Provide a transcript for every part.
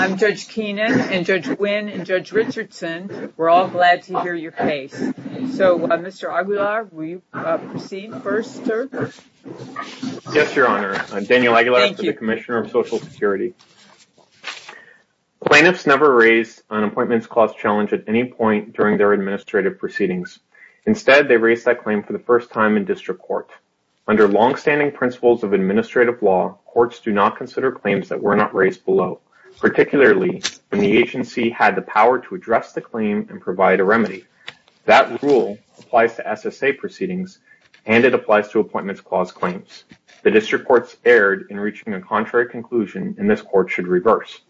I'm Judge Keenan and Judge Nguyen and Judge Richardson. We're all glad to hear your case, so, Mr. Aguilar, will you proceed first, sir? Yes, Your Honor. I'm Daniel Aguilar. I'm the Commissioner of Social Security. Plaintiffs never raised an appointments clause challenge at any point during their administrative proceedings. Instead, they raised that claim for the first time in district court. Under longstanding principles of administrative law, courts do not consider claims that were not raised below, particularly when the agency had the power to address the claim and provide a remedy. That rule applies to SSA proceedings, and it applies to appointments clause claims. The district courts erred in reaching a contrary conclusion, and this court should reverse.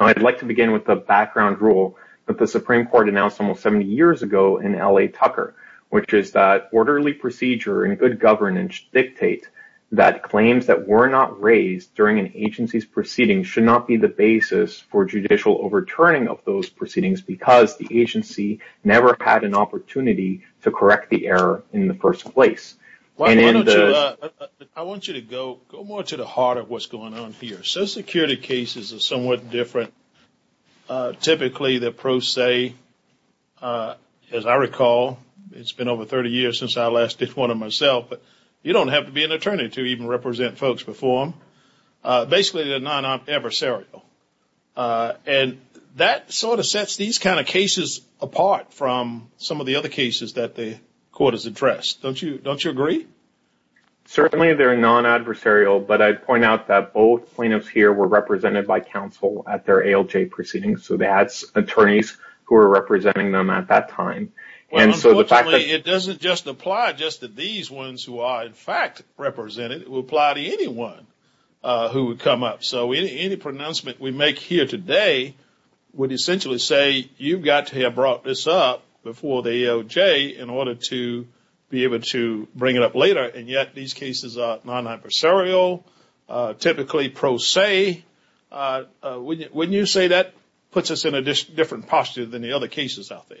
I'd like to begin with the background rule that the Supreme Court announced almost 70 years ago in L.A. Tucker, which is that orderly procedure and good governance dictate that claims that were not raised during an agency's proceedings should not be the basis for judicial overturning of those proceedings because the agency never had an opportunity to correct the error in the first place. I want you to go more to the heart of what's going on here. Social Security cases are somewhat different. Typically, the pros say, as I recall, it's been over 30 years since I last did one myself, but you don't have to be an attorney to even represent folks before them. Basically, they're non-adversarial, and that sort of sets these kind of cases apart from some of the other cases that the court has addressed. Don't you agree? Certainly, they're non-adversarial, but I'd point out that both plaintiffs here were represented by counsel at their ALJ proceedings, so that's attorneys who were representing them at that time. Unfortunately, it doesn't just apply just to these ones who are in fact represented. It would apply to anyone who would come up, so any pronouncement we make here today would essentially say, you've got to have brought this up before the ALJ in order to be able to bring it up later, and yet these cases are non-adversarial, typically pros say. Wouldn't you say that puts us in a different posture than the other cases out there?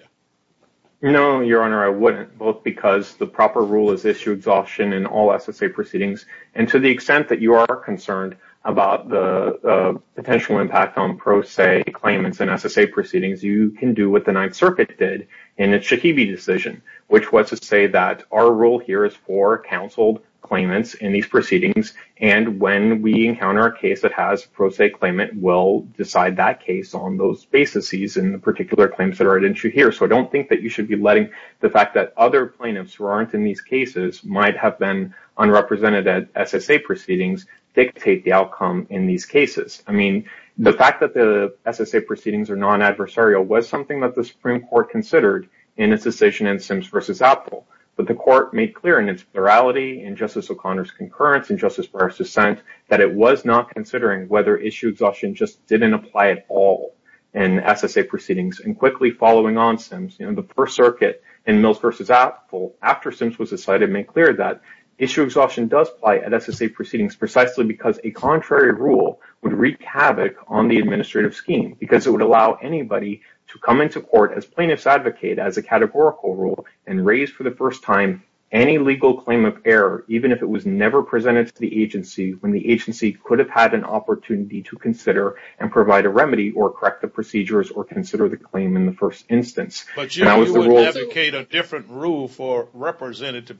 No, Your Honor, I wouldn't, both because the proper rule is issue exhaustion in all SSA proceedings, and to the extent that you are concerned about the potential impact on pro se claimants in SSA proceedings, you can do what the Ninth Circuit did in its Shahebi decision, which was to say that our rule here is for counseled claimants in these proceedings, and when we encounter a case that has pro se claimant, we'll decide that case on those basises and the particular claims that are at issue here. So I don't think that you should be letting the fact that other plaintiffs who aren't in these cases might have been unrepresented at SSA proceedings dictate the outcome in these cases. I mean, the fact that the SSA proceedings are non-adversarial was something that the Supreme Court considered in its decision in Sims v. Apple, but the Court made clear in its plurality in Justice O'Connor's concurrence and Justice Breyer's dissent that it was not considering whether issue exhaustion just didn't apply at all in SSA proceedings, and quickly following on Sims, the First Circuit in Mills v. Apple, after Sims was decided, made clear that issue exhaustion does apply at SSA proceedings precisely because a contrary rule would wreak havoc on the administrative scheme because it would allow anybody to come into court as plaintiffs advocate as a categorical rule and raise for the first time any legal claim of error, even if it was never presented to the agency, when the agency could have had an opportunity to consider and provide a remedy or correct the procedures or consider the claim in the first instance. But you would advocate a different rule for representative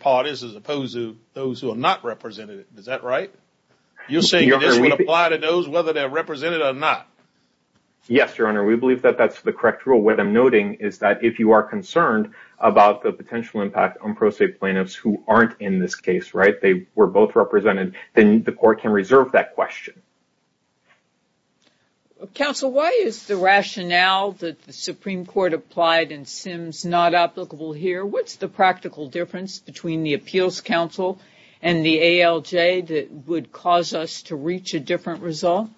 parties as opposed to those who are not represented. Is that right? You're saying that this would apply to those whether they're represented or not? Yes, Your Honor. We believe that that's the correct rule. What I'm noting is that if you are concerned about the potential impact on pro se plaintiffs who aren't in this case, they were both represented, then the court can reserve that question. Counsel, why is the rationale that the Supreme Court applied in Sims not applicable here? What's the practical difference between the Appeals Council and the ALJ that would cause us to reach a different result?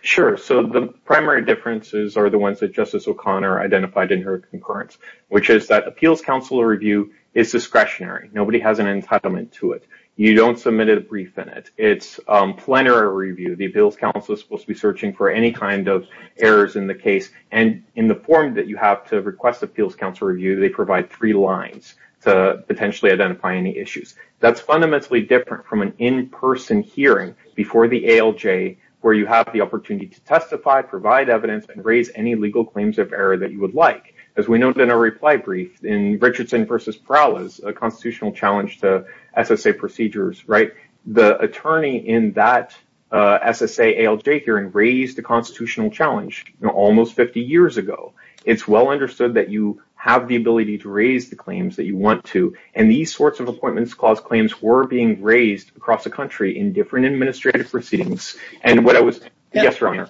Sure. So the primary differences are the ones that Justice O'Connor identified in her concurrence, which is that Appeals Council review is discretionary. Nobody has an entitlement to it. You don't submit a brief in it. It's plenary review. The Appeals Council is supposed to be searching for any kind of errors in the case, and in the form that you have to request Appeals Council review, they provide three lines to potentially identify any issues. That's fundamentally different from an in-person hearing before the ALJ where you have the opportunity to testify, provide evidence, and raise any legal claims of error that you would like. As we noted in our reply brief, in Richardson v. Perales, a constitutional challenge to SSA procedures, right, the attorney in that SSA ALJ hearing raised a constitutional challenge almost 50 years ago. It's well understood that you have the ability to raise the claims that you want to, and these sorts of appointments clause claims were being raised across the country in different administrative proceedings. And what I was – yes, Your Honor.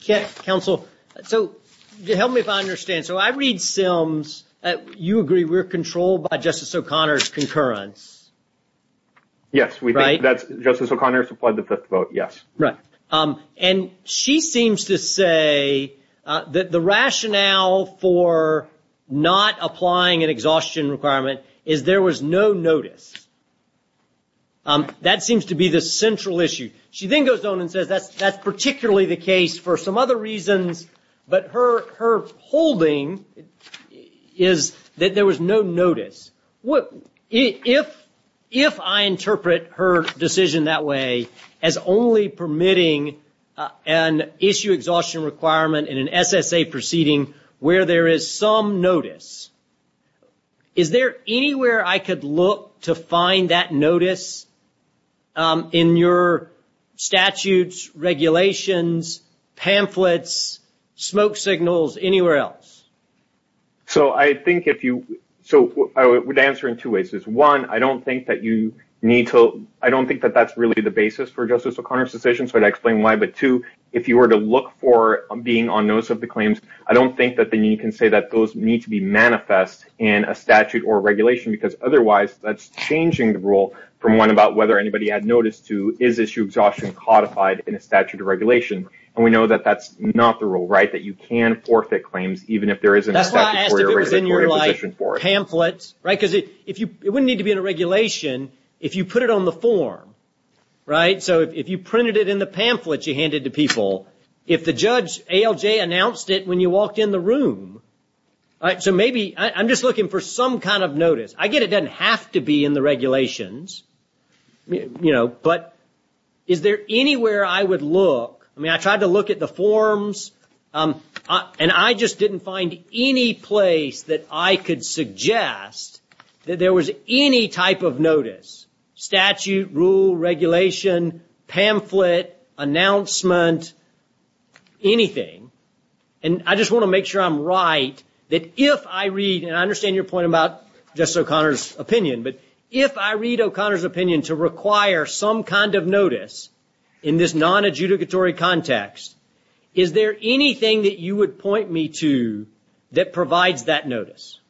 Counsel, so help me if I understand. So I read Sims. You agree we're controlled by Justice O'Connor's concurrence. Yes. Right? Justice O'Connor has applied the fifth vote, yes. Right. And she seems to say that the rationale for not applying an exhaustion requirement is there was no notice. That seems to be the central issue. She then goes on and says that's particularly the case for some other reasons, but her holding is that there was no notice. If I interpret her decision that way as only permitting an issue exhaustion requirement in an SSA proceeding where there is some notice, is there anywhere I could look to find that notice in your statutes, regulations, pamphlets, smoke signals, anywhere else? So I think if you – so I would answer in two ways. One, I don't think that you need to – I don't think that that's really the basis for Justice O'Connor's decision, so I'd explain why. But two, if you were to look for being on notice of the claims, I don't think that then you can say that those need to be manifest in a statute or regulation because otherwise that's changing the rule from one about whether anybody had notice to is issue exhaustion codified in a statute or regulation. And we know that that's not the rule, right? That you can forfeit claims even if there isn't a statutory or regulatory position for it. That's why I asked if it was in your pamphlet, right? Because it wouldn't need to be in a regulation if you put it on the form, right? So if you printed it in the pamphlet you handed to people, if the judge ALJ announced it when you walked in the room, so maybe – I'm just looking for some kind of notice. I get it doesn't have to be in the regulations, you know, but is there anywhere I would look? I mean, I tried to look at the forms and I just didn't find any place that I could suggest that there was any type of notice, statute, rule, regulation, pamphlet, announcement, anything. And I just want to make sure I'm right that if I read, and I understand your point about Justice O'Connor's opinion, but if I read O'Connor's opinion to require some kind of notice in this non-adjudicatory context, is there anything that you would point me to that provides that notice?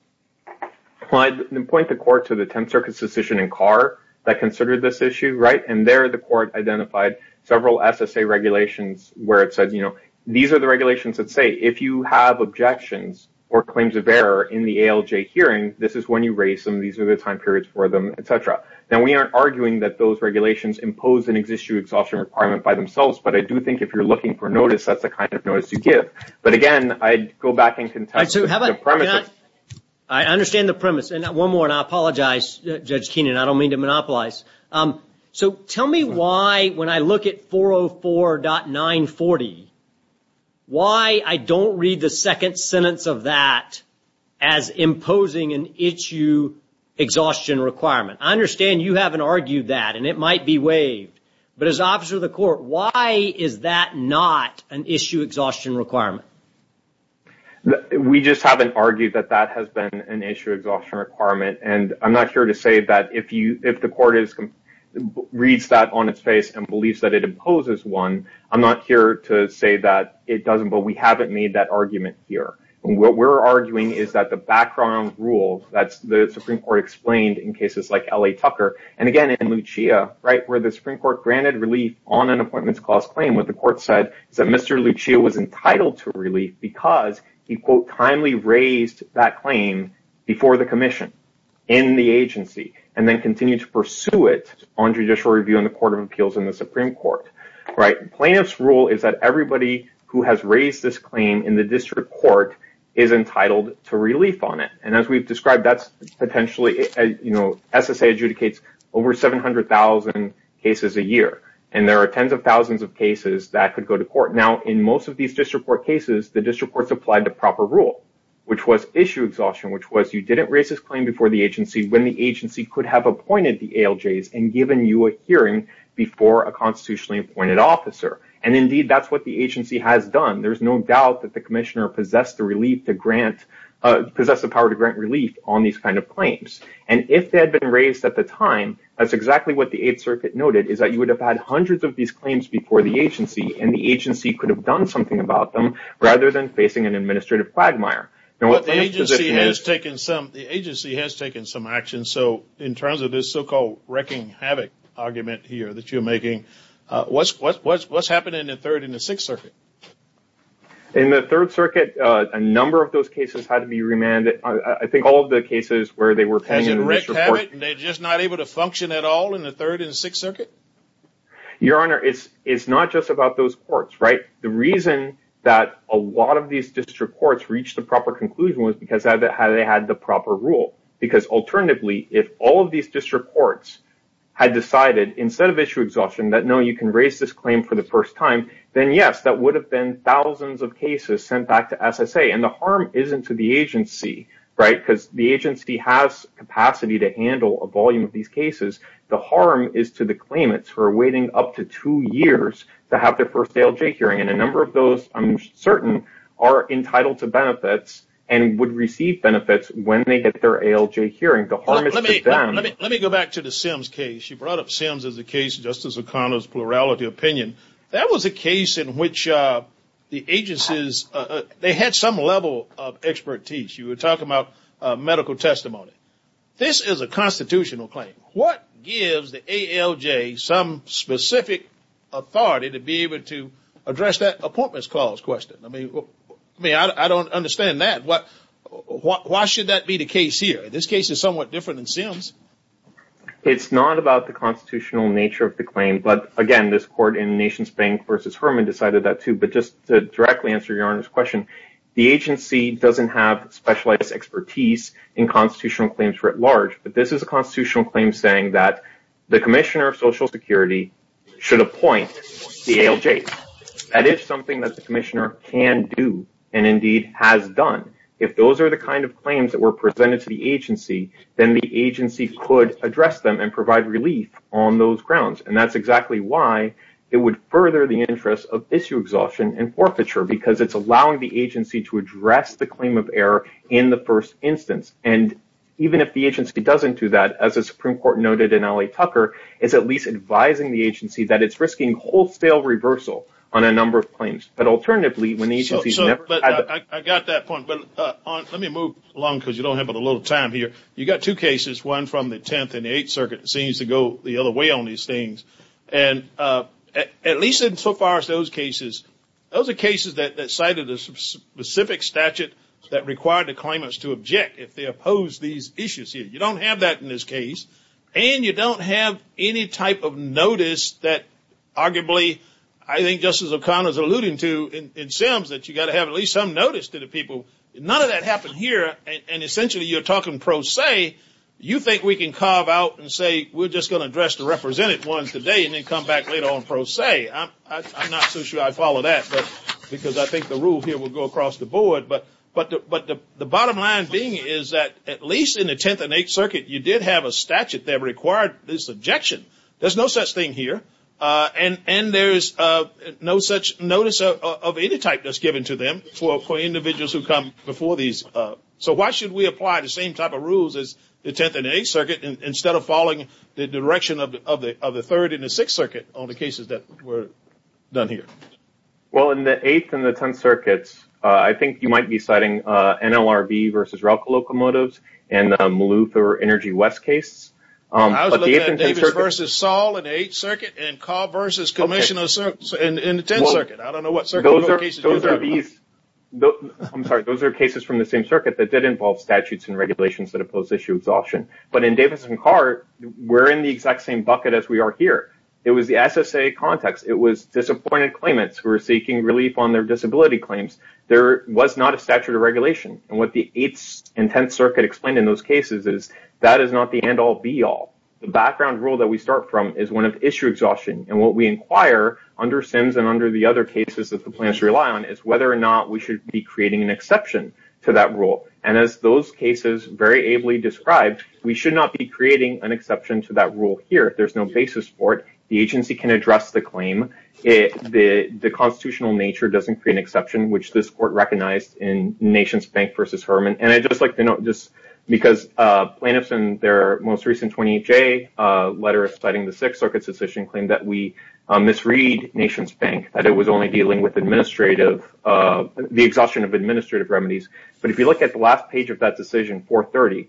Well, I'd point the court to the Tenth Circuit's decision in Carr that considered this issue, right? And there the court identified several SSA regulations where it says, you know, these are the regulations that say if you have objections or claims of error in the ALJ hearing, this is when you raise them, these are the time periods for them, et cetera. Now, we aren't arguing that those regulations impose an ex-issue exhaustion requirement by themselves, but I do think if you're looking for notice, that's the kind of notice you give. But again, I'd go back and contest the premise. I understand the premise. And one more, and I apologize, Judge Keenan, I don't mean to monopolize. So tell me why, when I look at 404.940, why I don't read the second sentence of that as imposing an issue exhaustion requirement. I understand you haven't argued that, and it might be waived. But as an officer of the court, why is that not an issue exhaustion requirement? We just haven't argued that that has been an issue exhaustion requirement. And I'm not here to say that if the court reads that on its face and believes that it imposes one, I'm not here to say that it doesn't. But we haven't made that argument here. What we're arguing is that the background rules that the Supreme Court explained in cases like L.A. Tucker, and, again, in Lucia, right, where the Supreme Court granted relief on an appointments clause claim, what the court said is that Mr. Lucia was entitled to relief because he, quote, timely raised that claim before the commission, in the agency, and then continued to pursue it on judicial review in the Court of Appeals in the Supreme Court. Plaintiff's rule is that everybody who has raised this claim in the district court is entitled to relief on it. And as we've described, that's potentially, you know, SSA adjudicates over 700,000 cases a year. And there are tens of thousands of cases that could go to court. Now, in most of these district court cases, the district courts applied the proper rule, which was issue exhaustion, which was you didn't raise this claim before the agency when the agency could have appointed the ALJs and given you a hearing before a constitutionally appointed officer. And, indeed, that's what the agency has done. There's no doubt that the commissioner possessed the power to grant relief on these kind of claims. And if they had been raised at the time, that's exactly what the Eighth Circuit noted, is that you would have had hundreds of these claims before the agency, and the agency could have done something about them rather than facing an administrative quagmire. But the agency has taken some action. So in terms of this so-called wrecking havoc argument here that you're making, what's happening in the Third and the Sixth Circuit? In the Third Circuit, a number of those cases had to be remanded. I think all of the cases where they were paying a written report. Hasn't Rick had it, and they're just not able to function at all in the Third and the Sixth Circuit? Your Honor, it's not just about those courts, right? The reason that a lot of these district courts reached the proper conclusion was because they had the proper rule. Because alternatively, if all of these district courts had decided, instead of issue exhaustion, that, no, you can raise this claim for the first time, then, yes, that would have been thousands of cases sent back to SSA. And the harm isn't to the agency, right? Because the agency has capacity to handle a volume of these cases. The harm is to the claimants who are waiting up to two years to have their first ALJ hearing. And a number of those, I'm certain, are entitled to benefits and would receive benefits when they get their ALJ hearing. The harm is to them. Let me go back to the Sims case. You brought up Sims as a case, Justice O'Connor's plurality opinion. That was a case in which the agencies, they had some level of expertise. You were talking about medical testimony. This is a constitutional claim. What gives the ALJ some specific authority to be able to address that appointments calls question? I mean, I don't understand that. Why should that be the case here? This case is somewhat different than Sims. It's not about the constitutional nature of the claim. But, again, this court in Nations Bank v. Herman decided that, too. But just to directly answer Your Honor's question, the agency doesn't have specialized expertise in constitutional claims writ large. But this is a constitutional claim saying that the commissioner of Social Security should appoint the ALJ. That is something that the commissioner can do and, indeed, has done. If those are the kind of claims that were presented to the agency, then the agency could address them and provide relief on those grounds. And that's exactly why it would further the interest of issue exhaustion and forfeiture because it's allowing the agency to address the claim of error in the first instance. And even if the agency doesn't do that, as the Supreme Court noted in L.A. Tucker, it's at least advising the agency that it's risking wholesale reversal on a number of claims. But, alternatively, when the agency's never done that. I got that point. But let me move along because you don't have a lot of time here. You've got two cases, one from the 10th and the 8th Circuit. It seems to go the other way on these things. And at least in so far as those cases, those are cases that cited a specific statute that required the claimants to object if they opposed these issues here. You don't have that in this case. And you don't have any type of notice that, arguably, I think Justice O'Connor is alluding to in Sims, that you've got to have at least some notice to the people. None of that happened here. And essentially you're talking pro se. You think we can carve out and say we're just going to address the represented ones today and then come back later on pro se. I'm not so sure I follow that because I think the rule here will go across the board. But the bottom line being is that at least in the 10th and 8th Circuit you did have a statute that required this objection. There's no such thing here. And there's no such notice of any type that's given to them for individuals who come before these. So why should we apply the same type of rules as the 10th and 8th Circuit instead of following the direction of the 3rd and the 6th Circuit on the cases that were done here? Well, in the 8th and the 10th Circuits, I think you might be citing NLRB versus RELCA locomotives and the Malouf or Energy West case. I was looking at Davis versus Saul in the 8th Circuit and Cobb versus Commissioners in the 10th Circuit. I don't know what circuit cases you're talking about. I'm sorry, those are cases from the same circuit that did involve statutes and regulations that oppose issue exhaustion. But in Davis and Carr, we're in the exact same bucket as we are here. It was the SSA context. It was disappointed claimants who were seeking relief on their disability claims. There was not a statute of regulation. And what the 8th and 10th Circuit explained in those cases is that is not the end-all, be-all. The background rule that we start from is one of issue exhaustion. And what we inquire under SIMS and under the other cases that the plaintiffs rely on is whether or not we should be creating an exception to that rule. And as those cases very ably described, we should not be creating an exception to that rule here. There's no basis for it. The agency can address the claim. The constitutional nature doesn't create an exception, which this court recognized in Nations Bank versus Herman. And I'd just like to note just because plaintiffs in their most recent 28-J letter citing the 6th Circuit's decision claim that we misread Nations Bank, that it was only dealing with the exhaustion of administrative remedies. But if you look at the last page of that decision, 430,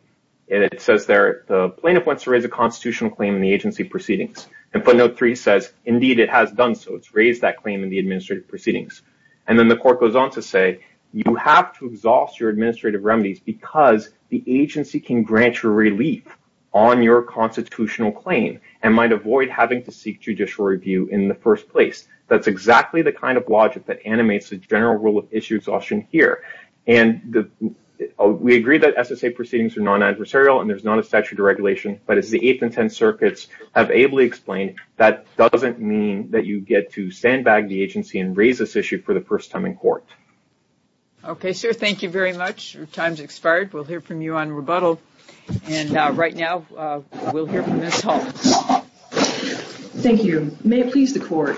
it says there the plaintiff wants to raise a constitutional claim in the agency proceedings. And footnote 3 says, indeed, it has done so. It's raised that claim in the administrative proceedings. And then the court goes on to say, you have to exhaust your administrative remedies because the agency can grant you relief on your constitutional claim and might avoid having to seek judicial review in the first place. That's exactly the kind of logic that animates the general rule of issue exhaustion here. And we agree that SSA proceedings are non-adversarial and there's not a statute of regulation. But as the 8th and 10th Circuits have ably explained, that doesn't mean that you get to sandbag the agency and raise this issue for the first time in court. Okay, sir, thank you very much. Your time's expired. We'll hear from you on rebuttal. And right now, we'll hear from Ms. Hall. Thank you. May it please the court.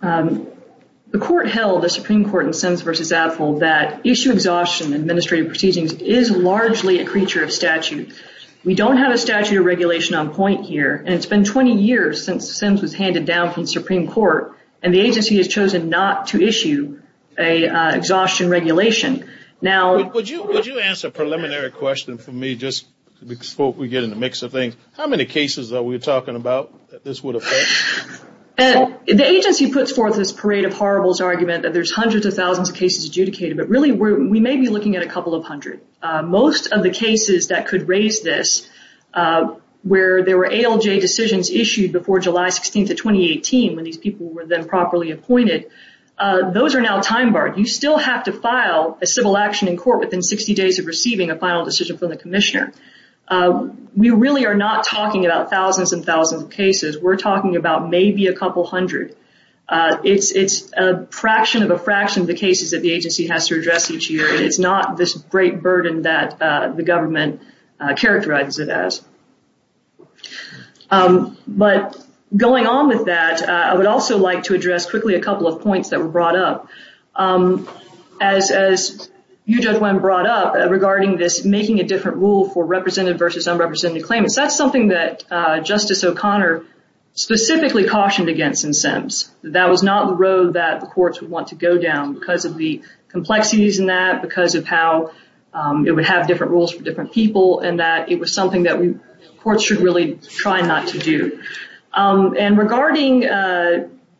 The court held, the Supreme Court in Sims versus Apfel, that issue exhaustion in administrative proceedings is largely a creature of statute. We don't have a statute of regulation on point here, and it's been 20 years since Sims was handed down from the Supreme Court, and the agency has chosen not to issue an exhaustion regulation. Would you answer a preliminary question for me just before we get in the mix of things? How many cases are we talking about that this would affect? The agency puts forth this parade of horribles argument that there's hundreds of thousands of cases adjudicated, but really we may be looking at a couple of hundred. Most of the cases that could raise this, where there were ALJ decisions issued before July 16th of 2018, when these people were then properly appointed, those are now time-barred. You still have to file a civil action in court within 60 days of receiving a final decision from the commissioner. We really are not talking about thousands and thousands of cases. We're talking about maybe a couple hundred. It's a fraction of a fraction of the cases that the agency has to address each year, and it's not this great burden that the government characterizes it as. But going on with that, I would also like to address quickly a couple of points that were brought up. As you, Judge Wen, brought up regarding this making a different rule for represented versus unrepresented claimants, that's something that Justice O'Connor specifically cautioned against in Sims. That was not the road that the courts would want to go down because of the complexities in that, because of how it would have different rules for different people, and that it was something that courts should really try not to do. And regarding,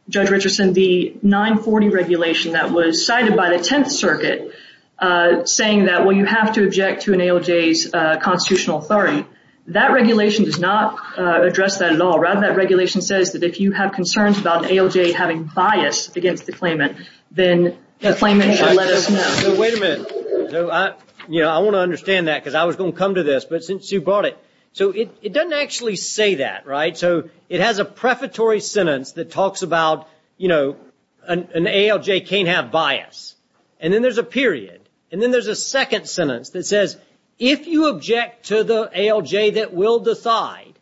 Judge Richardson, the 940 regulation that was cited by the Tenth Circuit saying that, well, you have to object to an ALJ's constitutional authority, that regulation does not address that at all. Rather, that regulation says that if you have concerns about an ALJ having bias against the claimant, then the claimant should let us know. Wait a minute. You know, I want to understand that because I was going to come to this, but since you brought it. So it doesn't actually say that, right? So it has a prefatory sentence that talks about, you know, an ALJ can't have bias. And then there's a period, and then there's a second sentence that says, if you object to the ALJ that will decide,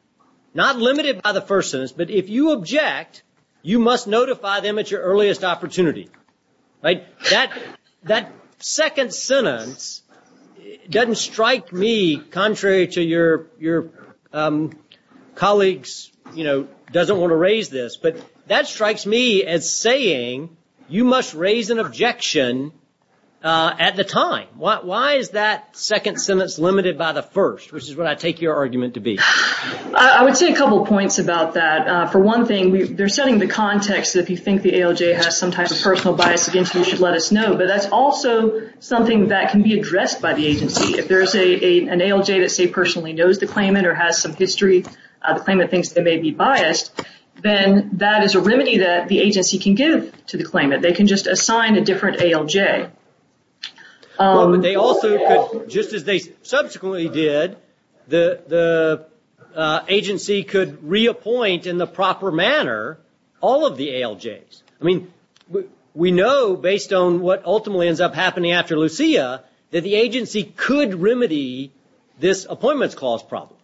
not limited by the first sentence, but if you object, you must notify them at your earliest opportunity, right? That second sentence doesn't strike me, contrary to your colleagues, you know, doesn't want to raise this, but that strikes me as saying you must raise an objection at the time. Why is that second sentence limited by the first, which is what I take your argument to be? I would say a couple of points about that. For one thing, they're setting the context that if you think the ALJ has some type of personal bias against you, you should let us know. But that's also something that can be addressed by the agency. If there's an ALJ that, say, personally knows the claimant or has some history, the claimant thinks they may be biased, then that is a remedy that the agency can give to the claimant. They can just assign a different ALJ. Well, but they also could, just as they subsequently did, the agency could reappoint in the proper manner all of the ALJs. I mean, we know, based on what ultimately ends up happening after Lucia, that the agency could remedy this appointments clause problem.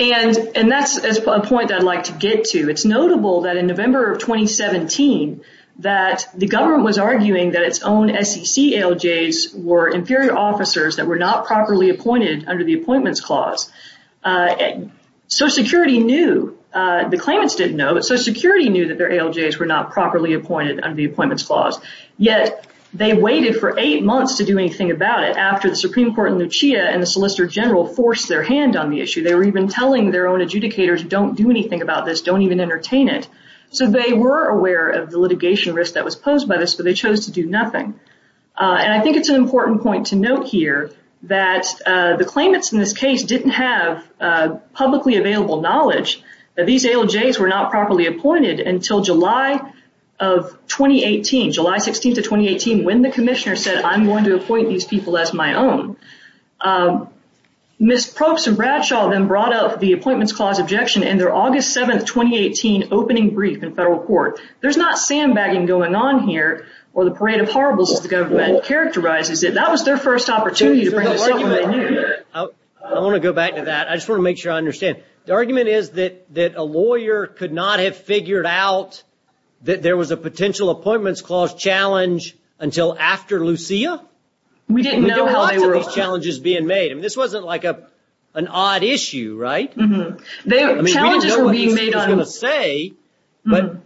And that's a point that I'd like to get to. It's notable that in November of 2017 that the government was arguing that its own SEC ALJs were inferior officers that were not properly appointed under the appointments clause. Social Security knew. The claimants didn't know, but Social Security knew that their ALJs were not properly appointed under the appointments clause. Yet they waited for eight months to do anything about it after the Supreme Court in Lucia and the Solicitor General forced their hand on the issue. They were even telling their own adjudicators, don't do anything about this, don't even entertain it. So they were aware of the litigation risk that was posed by this, but they chose to do nothing. And I think it's an important point to note here that the claimants in this case didn't have publicly available knowledge that these ALJs were not properly appointed until July of 2018, July 16th of 2018, when the commissioner said, I'm going to appoint these people as my own. Ms. Probst and Bradshaw then brought up the appointments clause objection in their August 7th, 2018 opening brief in federal court. There's not sandbagging going on here or the parade of horribles as the government characterizes it. That was their first opportunity to bring this up when they knew it. I want to go back to that. I just want to make sure I understand. The argument is that a lawyer could not have figured out that there was a potential appointments clause challenge until after Lucia? We didn't know how they were. We didn't know how to these challenges being made. I mean, this wasn't like an odd issue, right? I mean, we didn't know what Lucia was going to say. But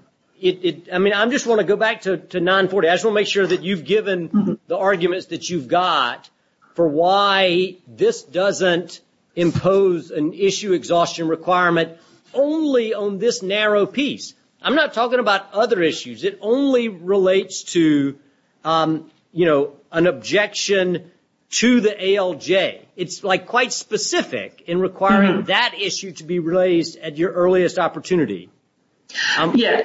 I mean, I just want to go back to 940. I just want to make sure that you've given the arguments that you've got for why this doesn't impose an issue exhaustion requirement only on this narrow piece. I'm not talking about other issues. It only relates to, you know, an objection to the ALJ. It's like quite specific in requiring that issue to be raised at your earliest opportunity. Yeah.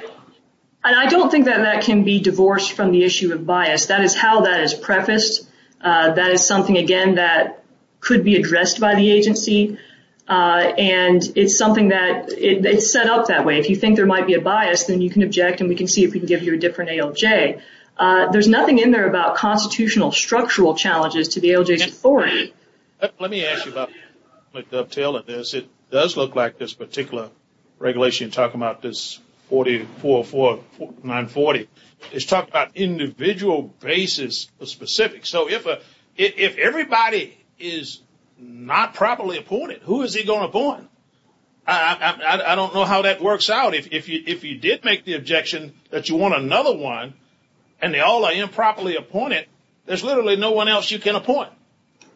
And I don't think that that can be divorced from the issue of bias. That is how that is prefaced. That is something, again, that could be addressed by the agency. And it's something that is set up that way. If you think there might be a bias, then you can object, and we can see if we can give you a different ALJ. There's nothing in there about constitutional structural challenges to the ALJ's authority. Let me ask you about the uptale of this. It does look like this particular regulation talking about this 4404, 940. It's talking about individual basis specifics. So if everybody is not properly appointed, who is he going to appoint? I don't know how that works out. If you did make the objection that you want another one, and they all are improperly appointed, there's literally no one else you can appoint.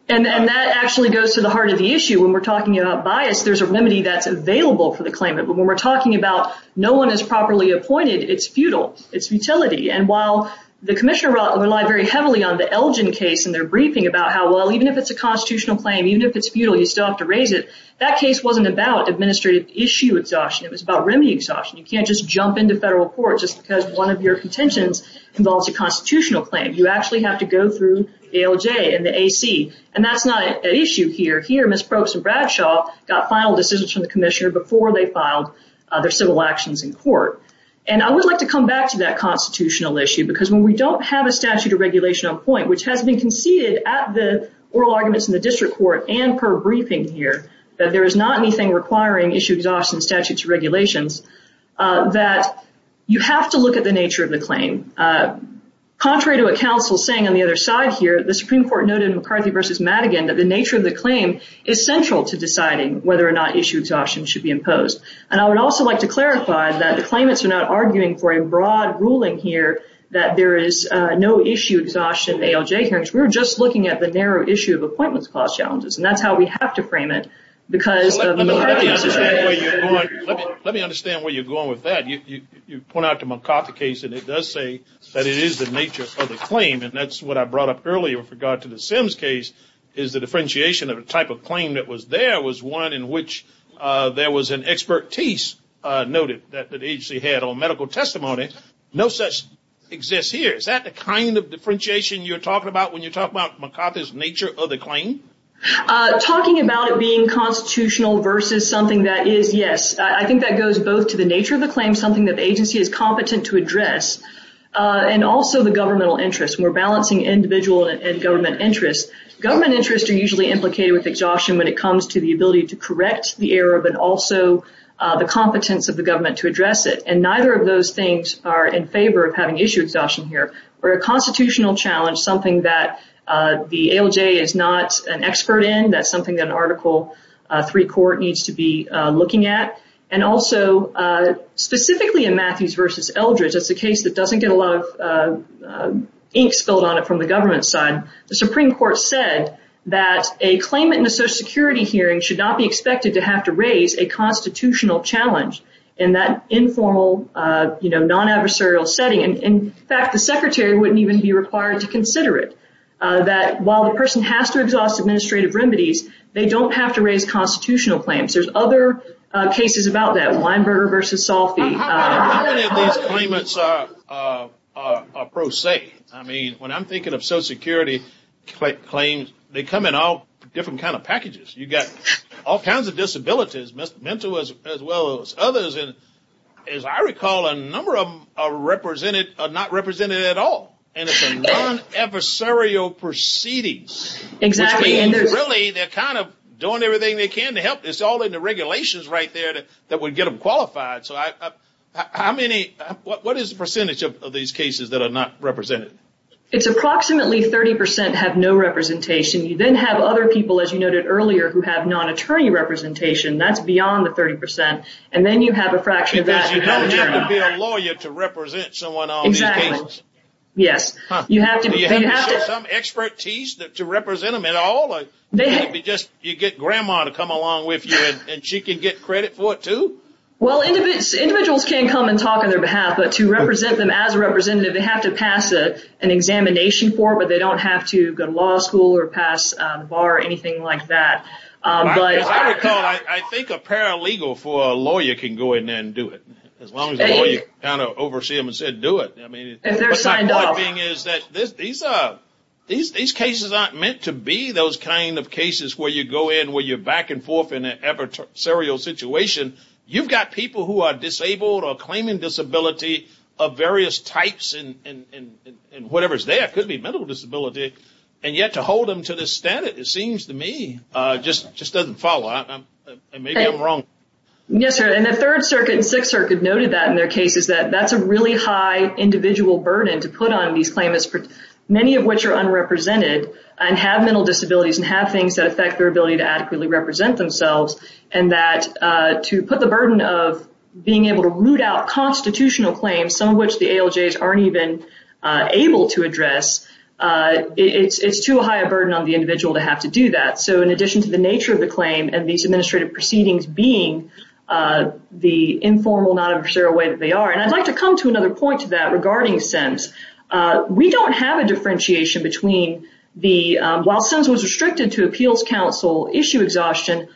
And that actually goes to the heart of the issue. When we're talking about bias, there's a remedy that's available for the claimant. But when we're talking about no one is properly appointed, it's futile. It's futility. And while the commissioner relied very heavily on the Elgin case in their briefing about how, well, even if it's a constitutional claim, even if it's futile, you still have to raise it, that case wasn't about administrative issue exhaustion. It was about remedy exhaustion. You can't just jump into federal court just because one of your contentions involves a constitutional claim. You actually have to go through ALJ and the AC. And that's not an issue here. Here, Ms. Probst and Bradshaw got final decisions from the commissioner before they filed their civil actions in court. And I would like to come back to that constitutional issue because when we don't have a statute of regulation on point, which has been conceded at the oral arguments in the district court and per briefing here, that there is not anything requiring issue exhaustion in statute of regulations, that you have to look at the nature of the claim. Contrary to what counsel is saying on the other side here, the Supreme Court noted in McCarthy v. Madigan that the nature of the claim is central to deciding whether or not issue exhaustion should be imposed. And I would also like to clarify that the claimants are not arguing for a broad ruling here that there is no issue exhaustion in ALJ hearings. We're just looking at the narrow issue of appointments clause challenges. And that's how we have to frame it because of the McCarthy situation. Let me understand where you're going with that. You point out the McCarthy case, and it does say that it is the nature of the claim. And that's what I brought up earlier with regard to the Sims case is the differentiation of a type of claim that was there was one in which there was an expertise noted that the agency had on medical testimony. No such exists here. Is that the kind of differentiation you're talking about when you talk about McCarthy's nature of the claim? Talking about it being constitutional versus something that is, yes. I think that goes both to the nature of the claim, something that the agency is competent to address, and also the governmental interest. We're balancing individual and government interests. Government interests are usually implicated with exhaustion when it comes to the ability to correct the error, but also the competence of the government to address it. And neither of those things are in favor of having issue exhaustion here. For a constitutional challenge, something that the ALJ is not an expert in, that's something that an Article III court needs to be looking at. And also, specifically in Matthews v. Eldredge, it's a case that doesn't get a lot of ink spilled on it from the government side. The Supreme Court said that a claimant in a Social Security hearing should not be expected to have to raise a constitutional challenge in that informal, non-adversarial setting. In fact, the Secretary wouldn't even be required to consider it, that while the person has to exhaust administrative remedies, they don't have to raise constitutional claims. There's other cases about that, Weinberger v. Salfi. How many of these claimants are pro se? I mean, when I'm thinking of Social Security claims, they come in all different kind of packages. You've got all kinds of disabilities, mental as well as others. As I recall, a number of them are not represented at all. And it's a non-adversarial proceedings. Really, they're kind of doing everything they can to help. It's all in the regulations right there that would get them qualified. What is the percentage of these cases that are not represented? It's approximately 30% have no representation. You then have other people, as you noted earlier, who have non-attorney representation. That's beyond the 30%. And then you have a fraction of that. Because you don't have to be a lawyer to represent someone on these cases. Exactly. Yes. Do you have to show some expertise to represent them at all? Or do you get Grandma to come along with you and she can get credit for it too? Well, individuals can come and talk on their behalf. But to represent them as a representative, they have to pass an examination form, or they don't have to go to law school or pass the bar or anything like that. As I recall, I think a paralegal for a lawyer can go in there and do it. As long as the lawyer oversees them and says do it. And they're signed off. These cases aren't meant to be those kind of cases where you go in, where you're back and forth in an adversarial situation. You've got people who are disabled or claiming disability of various types, and whatever is there. It could be mental disability. And yet to hold them to this standard, it seems to me, just doesn't follow. Maybe I'm wrong. Yes, sir. And the Third Circuit and Sixth Circuit noted that in their cases, that that's a really high individual burden to put on these claimants, many of which are unrepresented and have mental disabilities and have things that affect their ability to adequately represent themselves. And that to put the burden of being able to root out constitutional claims, some of which the ALJs aren't even able to address, it's too high a burden on the individual to have to do that. So in addition to the nature of the claim and these administrative proceedings being the informal, non-adversarial way that they are. And I'd like to come to another point to that regarding SEMS. We don't have a differentiation between the, while SEMS was restricted to Appeals Council issue exhaustion,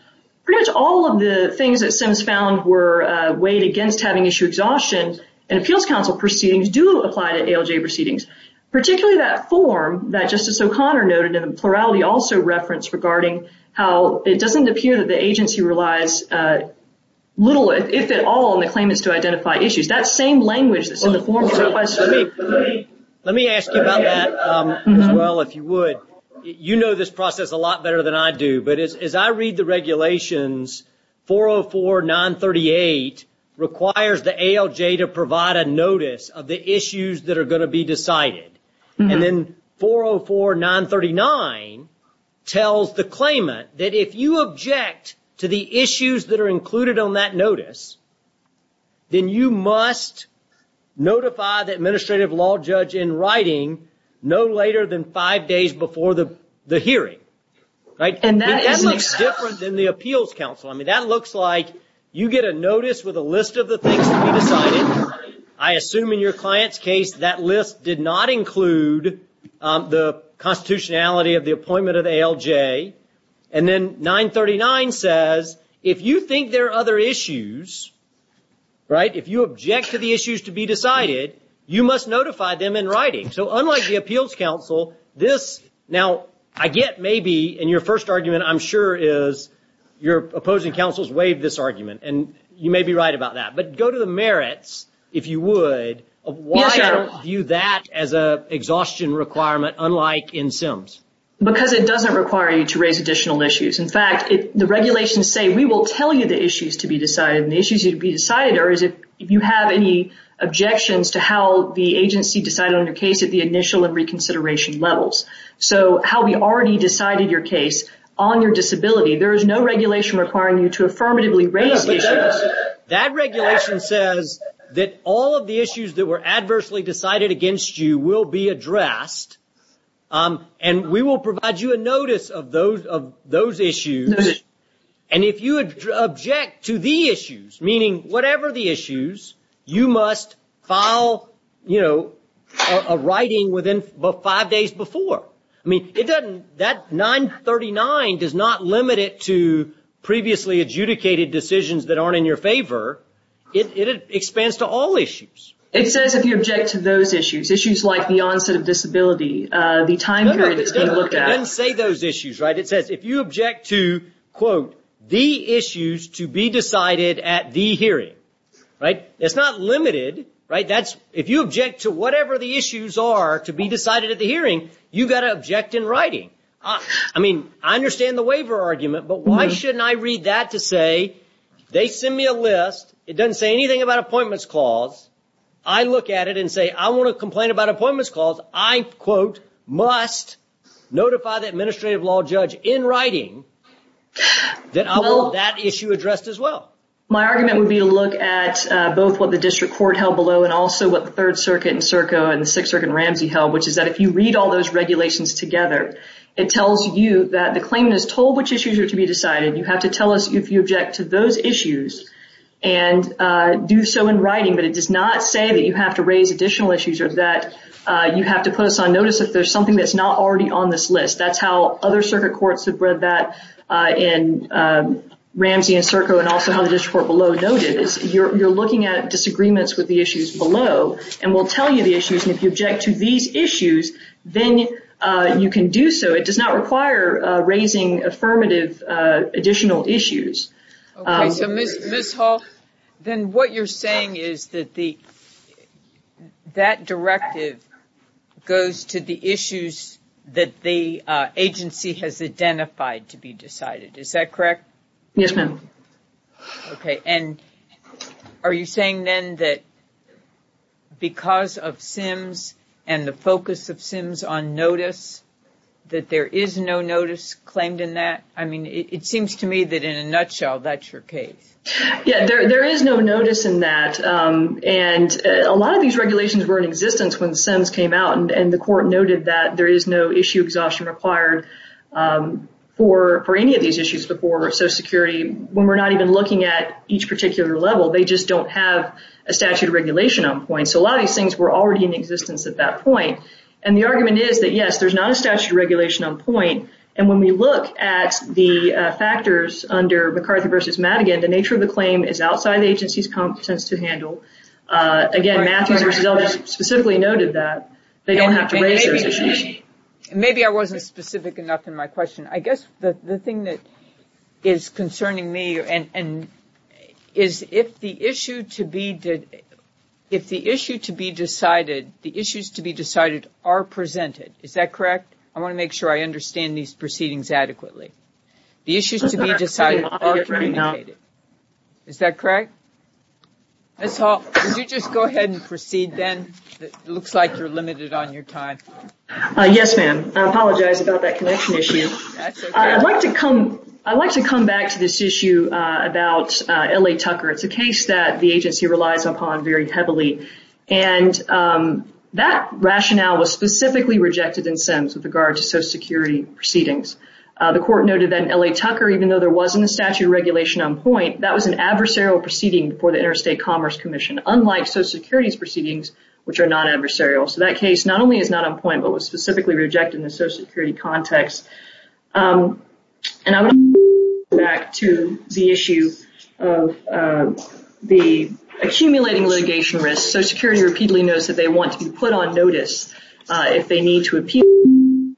pretty much all of the things that SEMS found were weighed against having issue exhaustion in Appeals Council proceedings do apply to ALJ proceedings. Particularly that form that Justice O'Connor noted in the plurality also referenced regarding how it doesn't appear that the agency relies little, if at all, on the claimants to identify issues. That same language that's in the form applies to me. Let me ask you about that as well, if you would. You know this process a lot better than I do. But as I read the regulations, 404-938 requires the ALJ to provide a notice of the issues that are going to be decided. And then 404-939 tells the claimant that if you object to the issues that are included on that notice, then you must notify the administrative law judge in writing no later than five days before the hearing. Right? And that looks different than the Appeals Council. I mean, that looks like you get a notice with a list of the things to be decided. I assume in your client's case that list did not include the constitutionality of the appointment of ALJ. And then 939 says if you think there are other issues, right, if you object to the issues to be decided, you must notify them in writing. So unlike the Appeals Council, this, now, I get maybe in your first argument, I'm sure is your opposing counsels waived this argument, and you may be right about that. But go to the merits, if you would, of why I don't view that as an exhaustion requirement, unlike in SIMS. Because it doesn't require you to raise additional issues. In fact, the regulations say we will tell you the issues to be decided, and the issues to be decided are if you have any objections to how the agency decided on your case at the initial and reconsideration levels. So how we already decided your case on your disability, there is no regulation requiring you to affirmatively raise issues. That regulation says that all of the issues that were adversely decided against you will be addressed, and we will provide you a notice of those issues. And if you object to the issues, meaning whatever the issues, you must file, you know, a writing within five days before. I mean, it doesn't, that 939 does not limit it to previously adjudicated decisions that aren't in your favor. It expands to all issues. It says if you object to those issues, issues like the onset of disability, the time period it's being looked at. It doesn't say those issues, right? It says if you object to, quote, the issues to be decided at the hearing. Right? It's not limited, right? That's, if you object to whatever the issues are to be decided at the hearing, you've got to object in writing. I mean, I understand the waiver argument, but why shouldn't I read that to say they send me a list. It doesn't say anything about appointments clause. I look at it and say I want to complain about appointments clause. I, quote, must notify the administrative law judge in writing that I want that issue addressed as well. My argument would be to look at both what the district court held below and also what the Third Circuit and Circo and the Sixth Circuit and Ramsey held, which is that if you read all those regulations together, it tells you that the claimant is told which issues are to be decided. You have to tell us if you object to those issues and do so in writing. But it does not say that you have to raise additional issues or that you have to put us on notice if there's something that's not already on this list. That's how other circuit courts have read that in Ramsey and Circo and also how the district court below noted. You're looking at disagreements with the issues below and will tell you the issues. And if you object to these issues, then you can do so. It does not require raising affirmative additional issues. Ms. Hall, then what you're saying is that the that directive goes to the issues that the agency has identified to be decided. Is that correct? Yes, ma'am. OK, and are you saying then that because of SIMS and the focus of SIMS on notice that there is no notice claimed in that? I mean, it seems to me that in a nutshell, that's your case. Yeah, there is no notice in that. And a lot of these regulations were in existence when the SIMS came out and the court noted that there is no issue exhaustion required for any of these issues before. So security, when we're not even looking at each particular level, they just don't have a statute of regulation on point. So a lot of these things were already in existence at that point. And the argument is that, yes, there's not a statute of regulation on point. And when we look at the factors under McCarthy versus Madigan, the nature of the claim is outside the agency's competence to handle. Again, Matthews versus Elders specifically noted that they don't have to raise those issues. Maybe I wasn't specific enough in my question. I guess the thing that is concerning me and is if the issue to be, if the issue to be decided, the issues to be decided are presented. Is that correct? I want to make sure I understand these proceedings adequately. The issues to be decided are communicated. Is that correct? Ms. Hall, would you just go ahead and proceed then? It looks like you're limited on your time. Yes, ma'am. I apologize about that connection issue. I'd like to come back to this issue about L.A. Tucker. It's a case that the agency relies upon very heavily. And that rationale was specifically rejected in SEMS with regard to Social Security proceedings. The court noted that in L.A. Tucker, even though there wasn't a statute of regulation on point, that was an adversarial proceeding for the Interstate Commerce Commission, unlike Social Security's proceedings, which are non-adversarial. So that case not only is not on point but was specifically rejected in the Social Security context. And I want to go back to the issue of the accumulating litigation risk. Social Security repeatedly notes that they want to be put on notice if they need to appeal.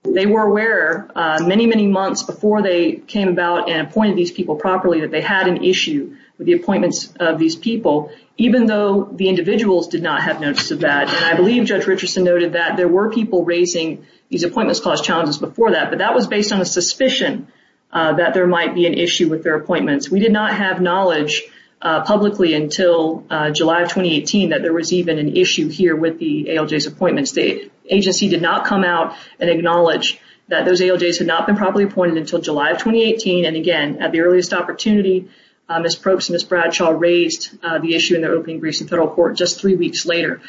They were aware many, many months before they came about and appointed these people properly that they had an issue with the appointments of these people, even though the individuals did not have notice of that. I believe Judge Richardson noted that there were people raising these appointments clause challenges before that, but that was based on a suspicion that there might be an issue with their appointments. We did not have knowledge publicly until July of 2018 that there was even an issue here with the ALJ's appointments. The agency did not come out and acknowledge that those ALJs had not been properly appointed until July of 2018. And again, at the earliest opportunity, Ms. Probst and Ms. Bradshaw raised the issue in their opening briefs in federal court just three weeks later.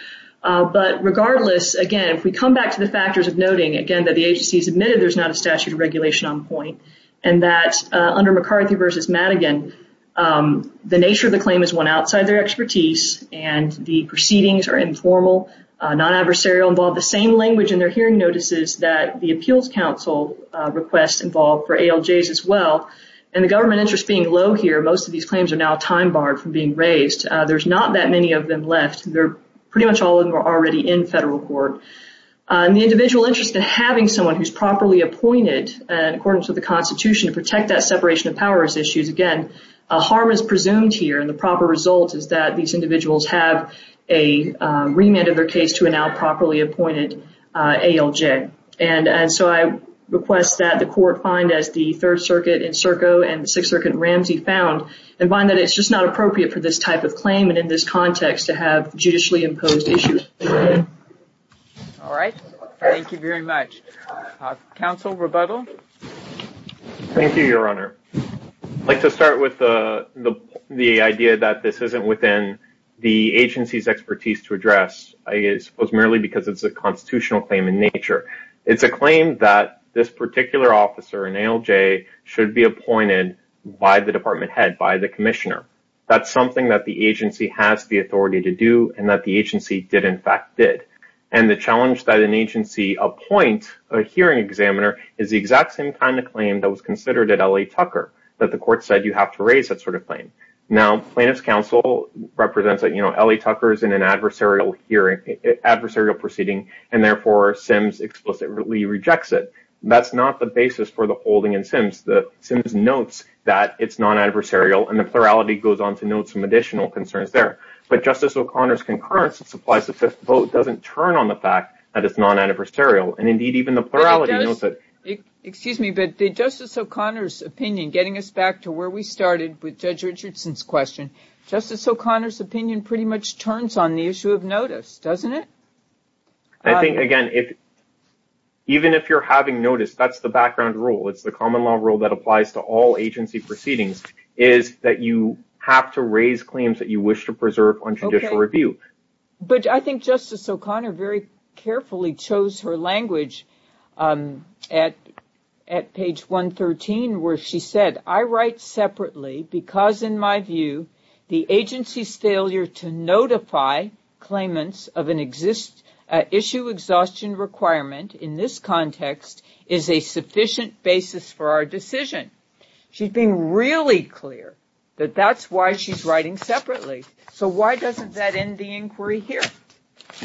But regardless, again, if we come back to the factors of noting, again, that the agency has admitted there's not a statute of regulation on point and that under McCarthy v. Madigan, the nature of the claim is one outside their expertise and the proceedings are informal, non-adversarial, involve the same language in their hearing notices that the appeals council requests involved for ALJs as well. And the government interest being low here, most of these claims are now time barred from being raised. There's not that many of them left. They're pretty much all of them are already in federal court. And the individual interest in having someone who's properly appointed, according to the Constitution, to protect that separation of powers issues, again, a harm is presumed here and the proper result is that these individuals have a remand of their case to a now properly appointed ALJ. And so I request that the court find, as the Third Circuit in Serco and the Sixth Circuit in Ramsey found, and find that it's just not appropriate for this type of claim and in this context to have judicially imposed issues. All right. Thank you very much. Counsel, rebuttal? Thank you, Your Honor. I'd like to start with the idea that this isn't within the agency's expertise to address, merely because it's a constitutional claim in nature. It's a claim that this particular officer, an ALJ, should be appointed by the department head, by the commissioner. That's something that the agency has the authority to do and that the agency did, in fact, did. And the challenge that an agency appoint a hearing examiner is the exact same kind of claim that was considered at L.A. Tucker, that the court said you have to raise that sort of claim. Now, plaintiff's counsel represents that L.A. Tucker is in an adversarial hearing, adversarial proceeding, and therefore SIMS explicitly rejects it. That's not the basis for the holding in SIMS. SIMS notes that it's non-adversarial, and the plurality goes on to note some additional concerns there. But Justice O'Connor's concurrence that supplies the fifth vote doesn't turn on the fact that it's non-adversarial. And, indeed, even the plurality notes it. Excuse me, but Justice O'Connor's opinion, getting us back to where we started with Judge Richardson's question, Justice O'Connor's opinion pretty much turns on the issue of notice, doesn't it? I think, again, even if you're having notice, that's the background rule. It's the common law rule that applies to all agency proceedings, is that you have to raise claims that you wish to preserve on judicial review. But I think Justice O'Connor very carefully chose her language at page 113 where she said, I write separately because, in my view, the agency's failure to notify claimants of an issue exhaustion requirement, in this context, is a sufficient basis for our decision. She's being really clear that that's why she's writing separately. So why doesn't that end the inquiry here?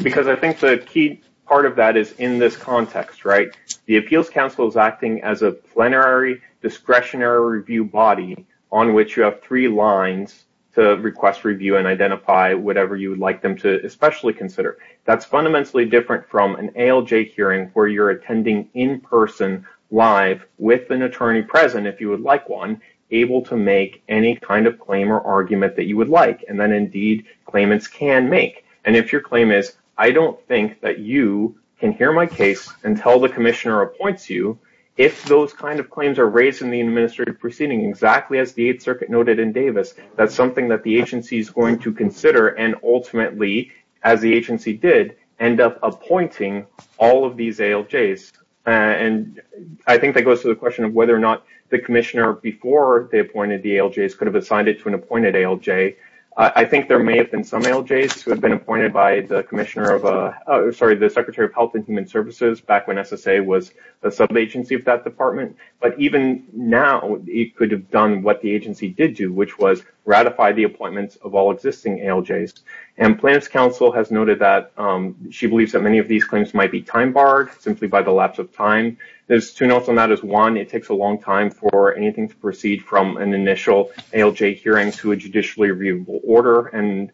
Because I think the key part of that is in this context, right? The Appeals Council is acting as a plenary discretionary review body on which you have three lines to request review and identify whatever you would like them to especially consider. That's fundamentally different from an ALJ hearing where you're attending in person, live, with an attorney present, if you would like one, able to make any kind of claim or argument that you would like, and then, indeed, claimants can make. And if your claim is, I don't think that you can hear my case until the commissioner appoints you, if those kind of claims are raised in the administrative proceeding exactly as the Eighth Circuit noted in Davis, that's something that the agency is going to consider and ultimately, as the agency did, end up appointing all of these ALJs. And I think that goes to the question of whether or not the commissioner, before they appointed the ALJs, could have assigned it to an appointed ALJ. I think there may have been some ALJs who had been appointed by the commissioner of a – sorry, the Secretary of Health and Human Services back when SSA was a sub-agency of that department. But even now, it could have done what the agency did do, which was ratify the appointments of all existing ALJs. And plaintiff's counsel has noted that she believes that many of these claims might be time-barred simply by the lapse of time. There's two notes on that. There's one, it takes a long time for anything to proceed from an initial ALJ hearing to a judicially reviewable order. And,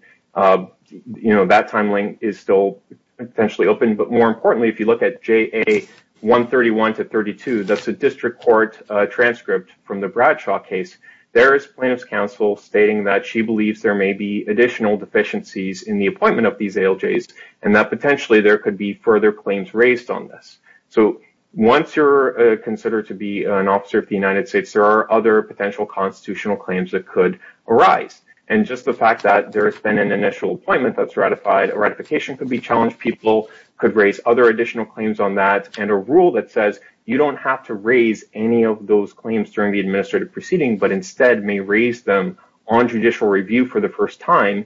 you know, that timeline is still potentially open. But more importantly, if you look at JA 131 to 32, that's a district court transcript from the Bradshaw case. There is plaintiff's counsel stating that she believes there may be additional deficiencies in the appointment of these ALJs and that potentially there could be further claims raised on this. So once you're considered to be an officer of the United States, there are other potential constitutional claims that could arise. And just the fact that there has been an initial appointment that's ratified, a ratification could be challenged. People could raise other additional claims on that. And a rule that says you don't have to raise any of those claims during the administrative proceeding, but instead may raise them on judicial review for the first time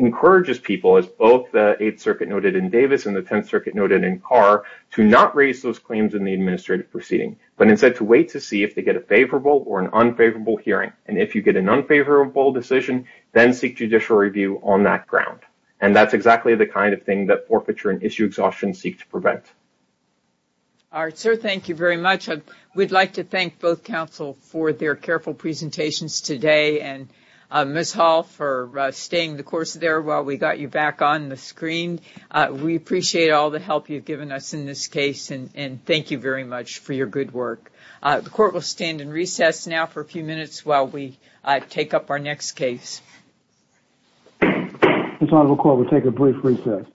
encourages people, as both the Eighth Circuit noted in Davis and the Tenth Circuit noted in Carr, to not raise those claims in the administrative proceeding, but instead to wait to see if they get a favorable or an unfavorable hearing. And if you get an unfavorable decision, then seek judicial review on that ground. And that's exactly the kind of thing that forfeiture and issue exhaustion seek to prevent. All right, sir, thank you very much. We'd like to thank both counsel for their careful presentations today and Ms. Hall for staying the course there while we got you back on the screen. We appreciate all the help you've given us in this case, and thank you very much for your good work. The court will stand in recess now for a few minutes while we take up our next case. This honorable court will take a brief recess.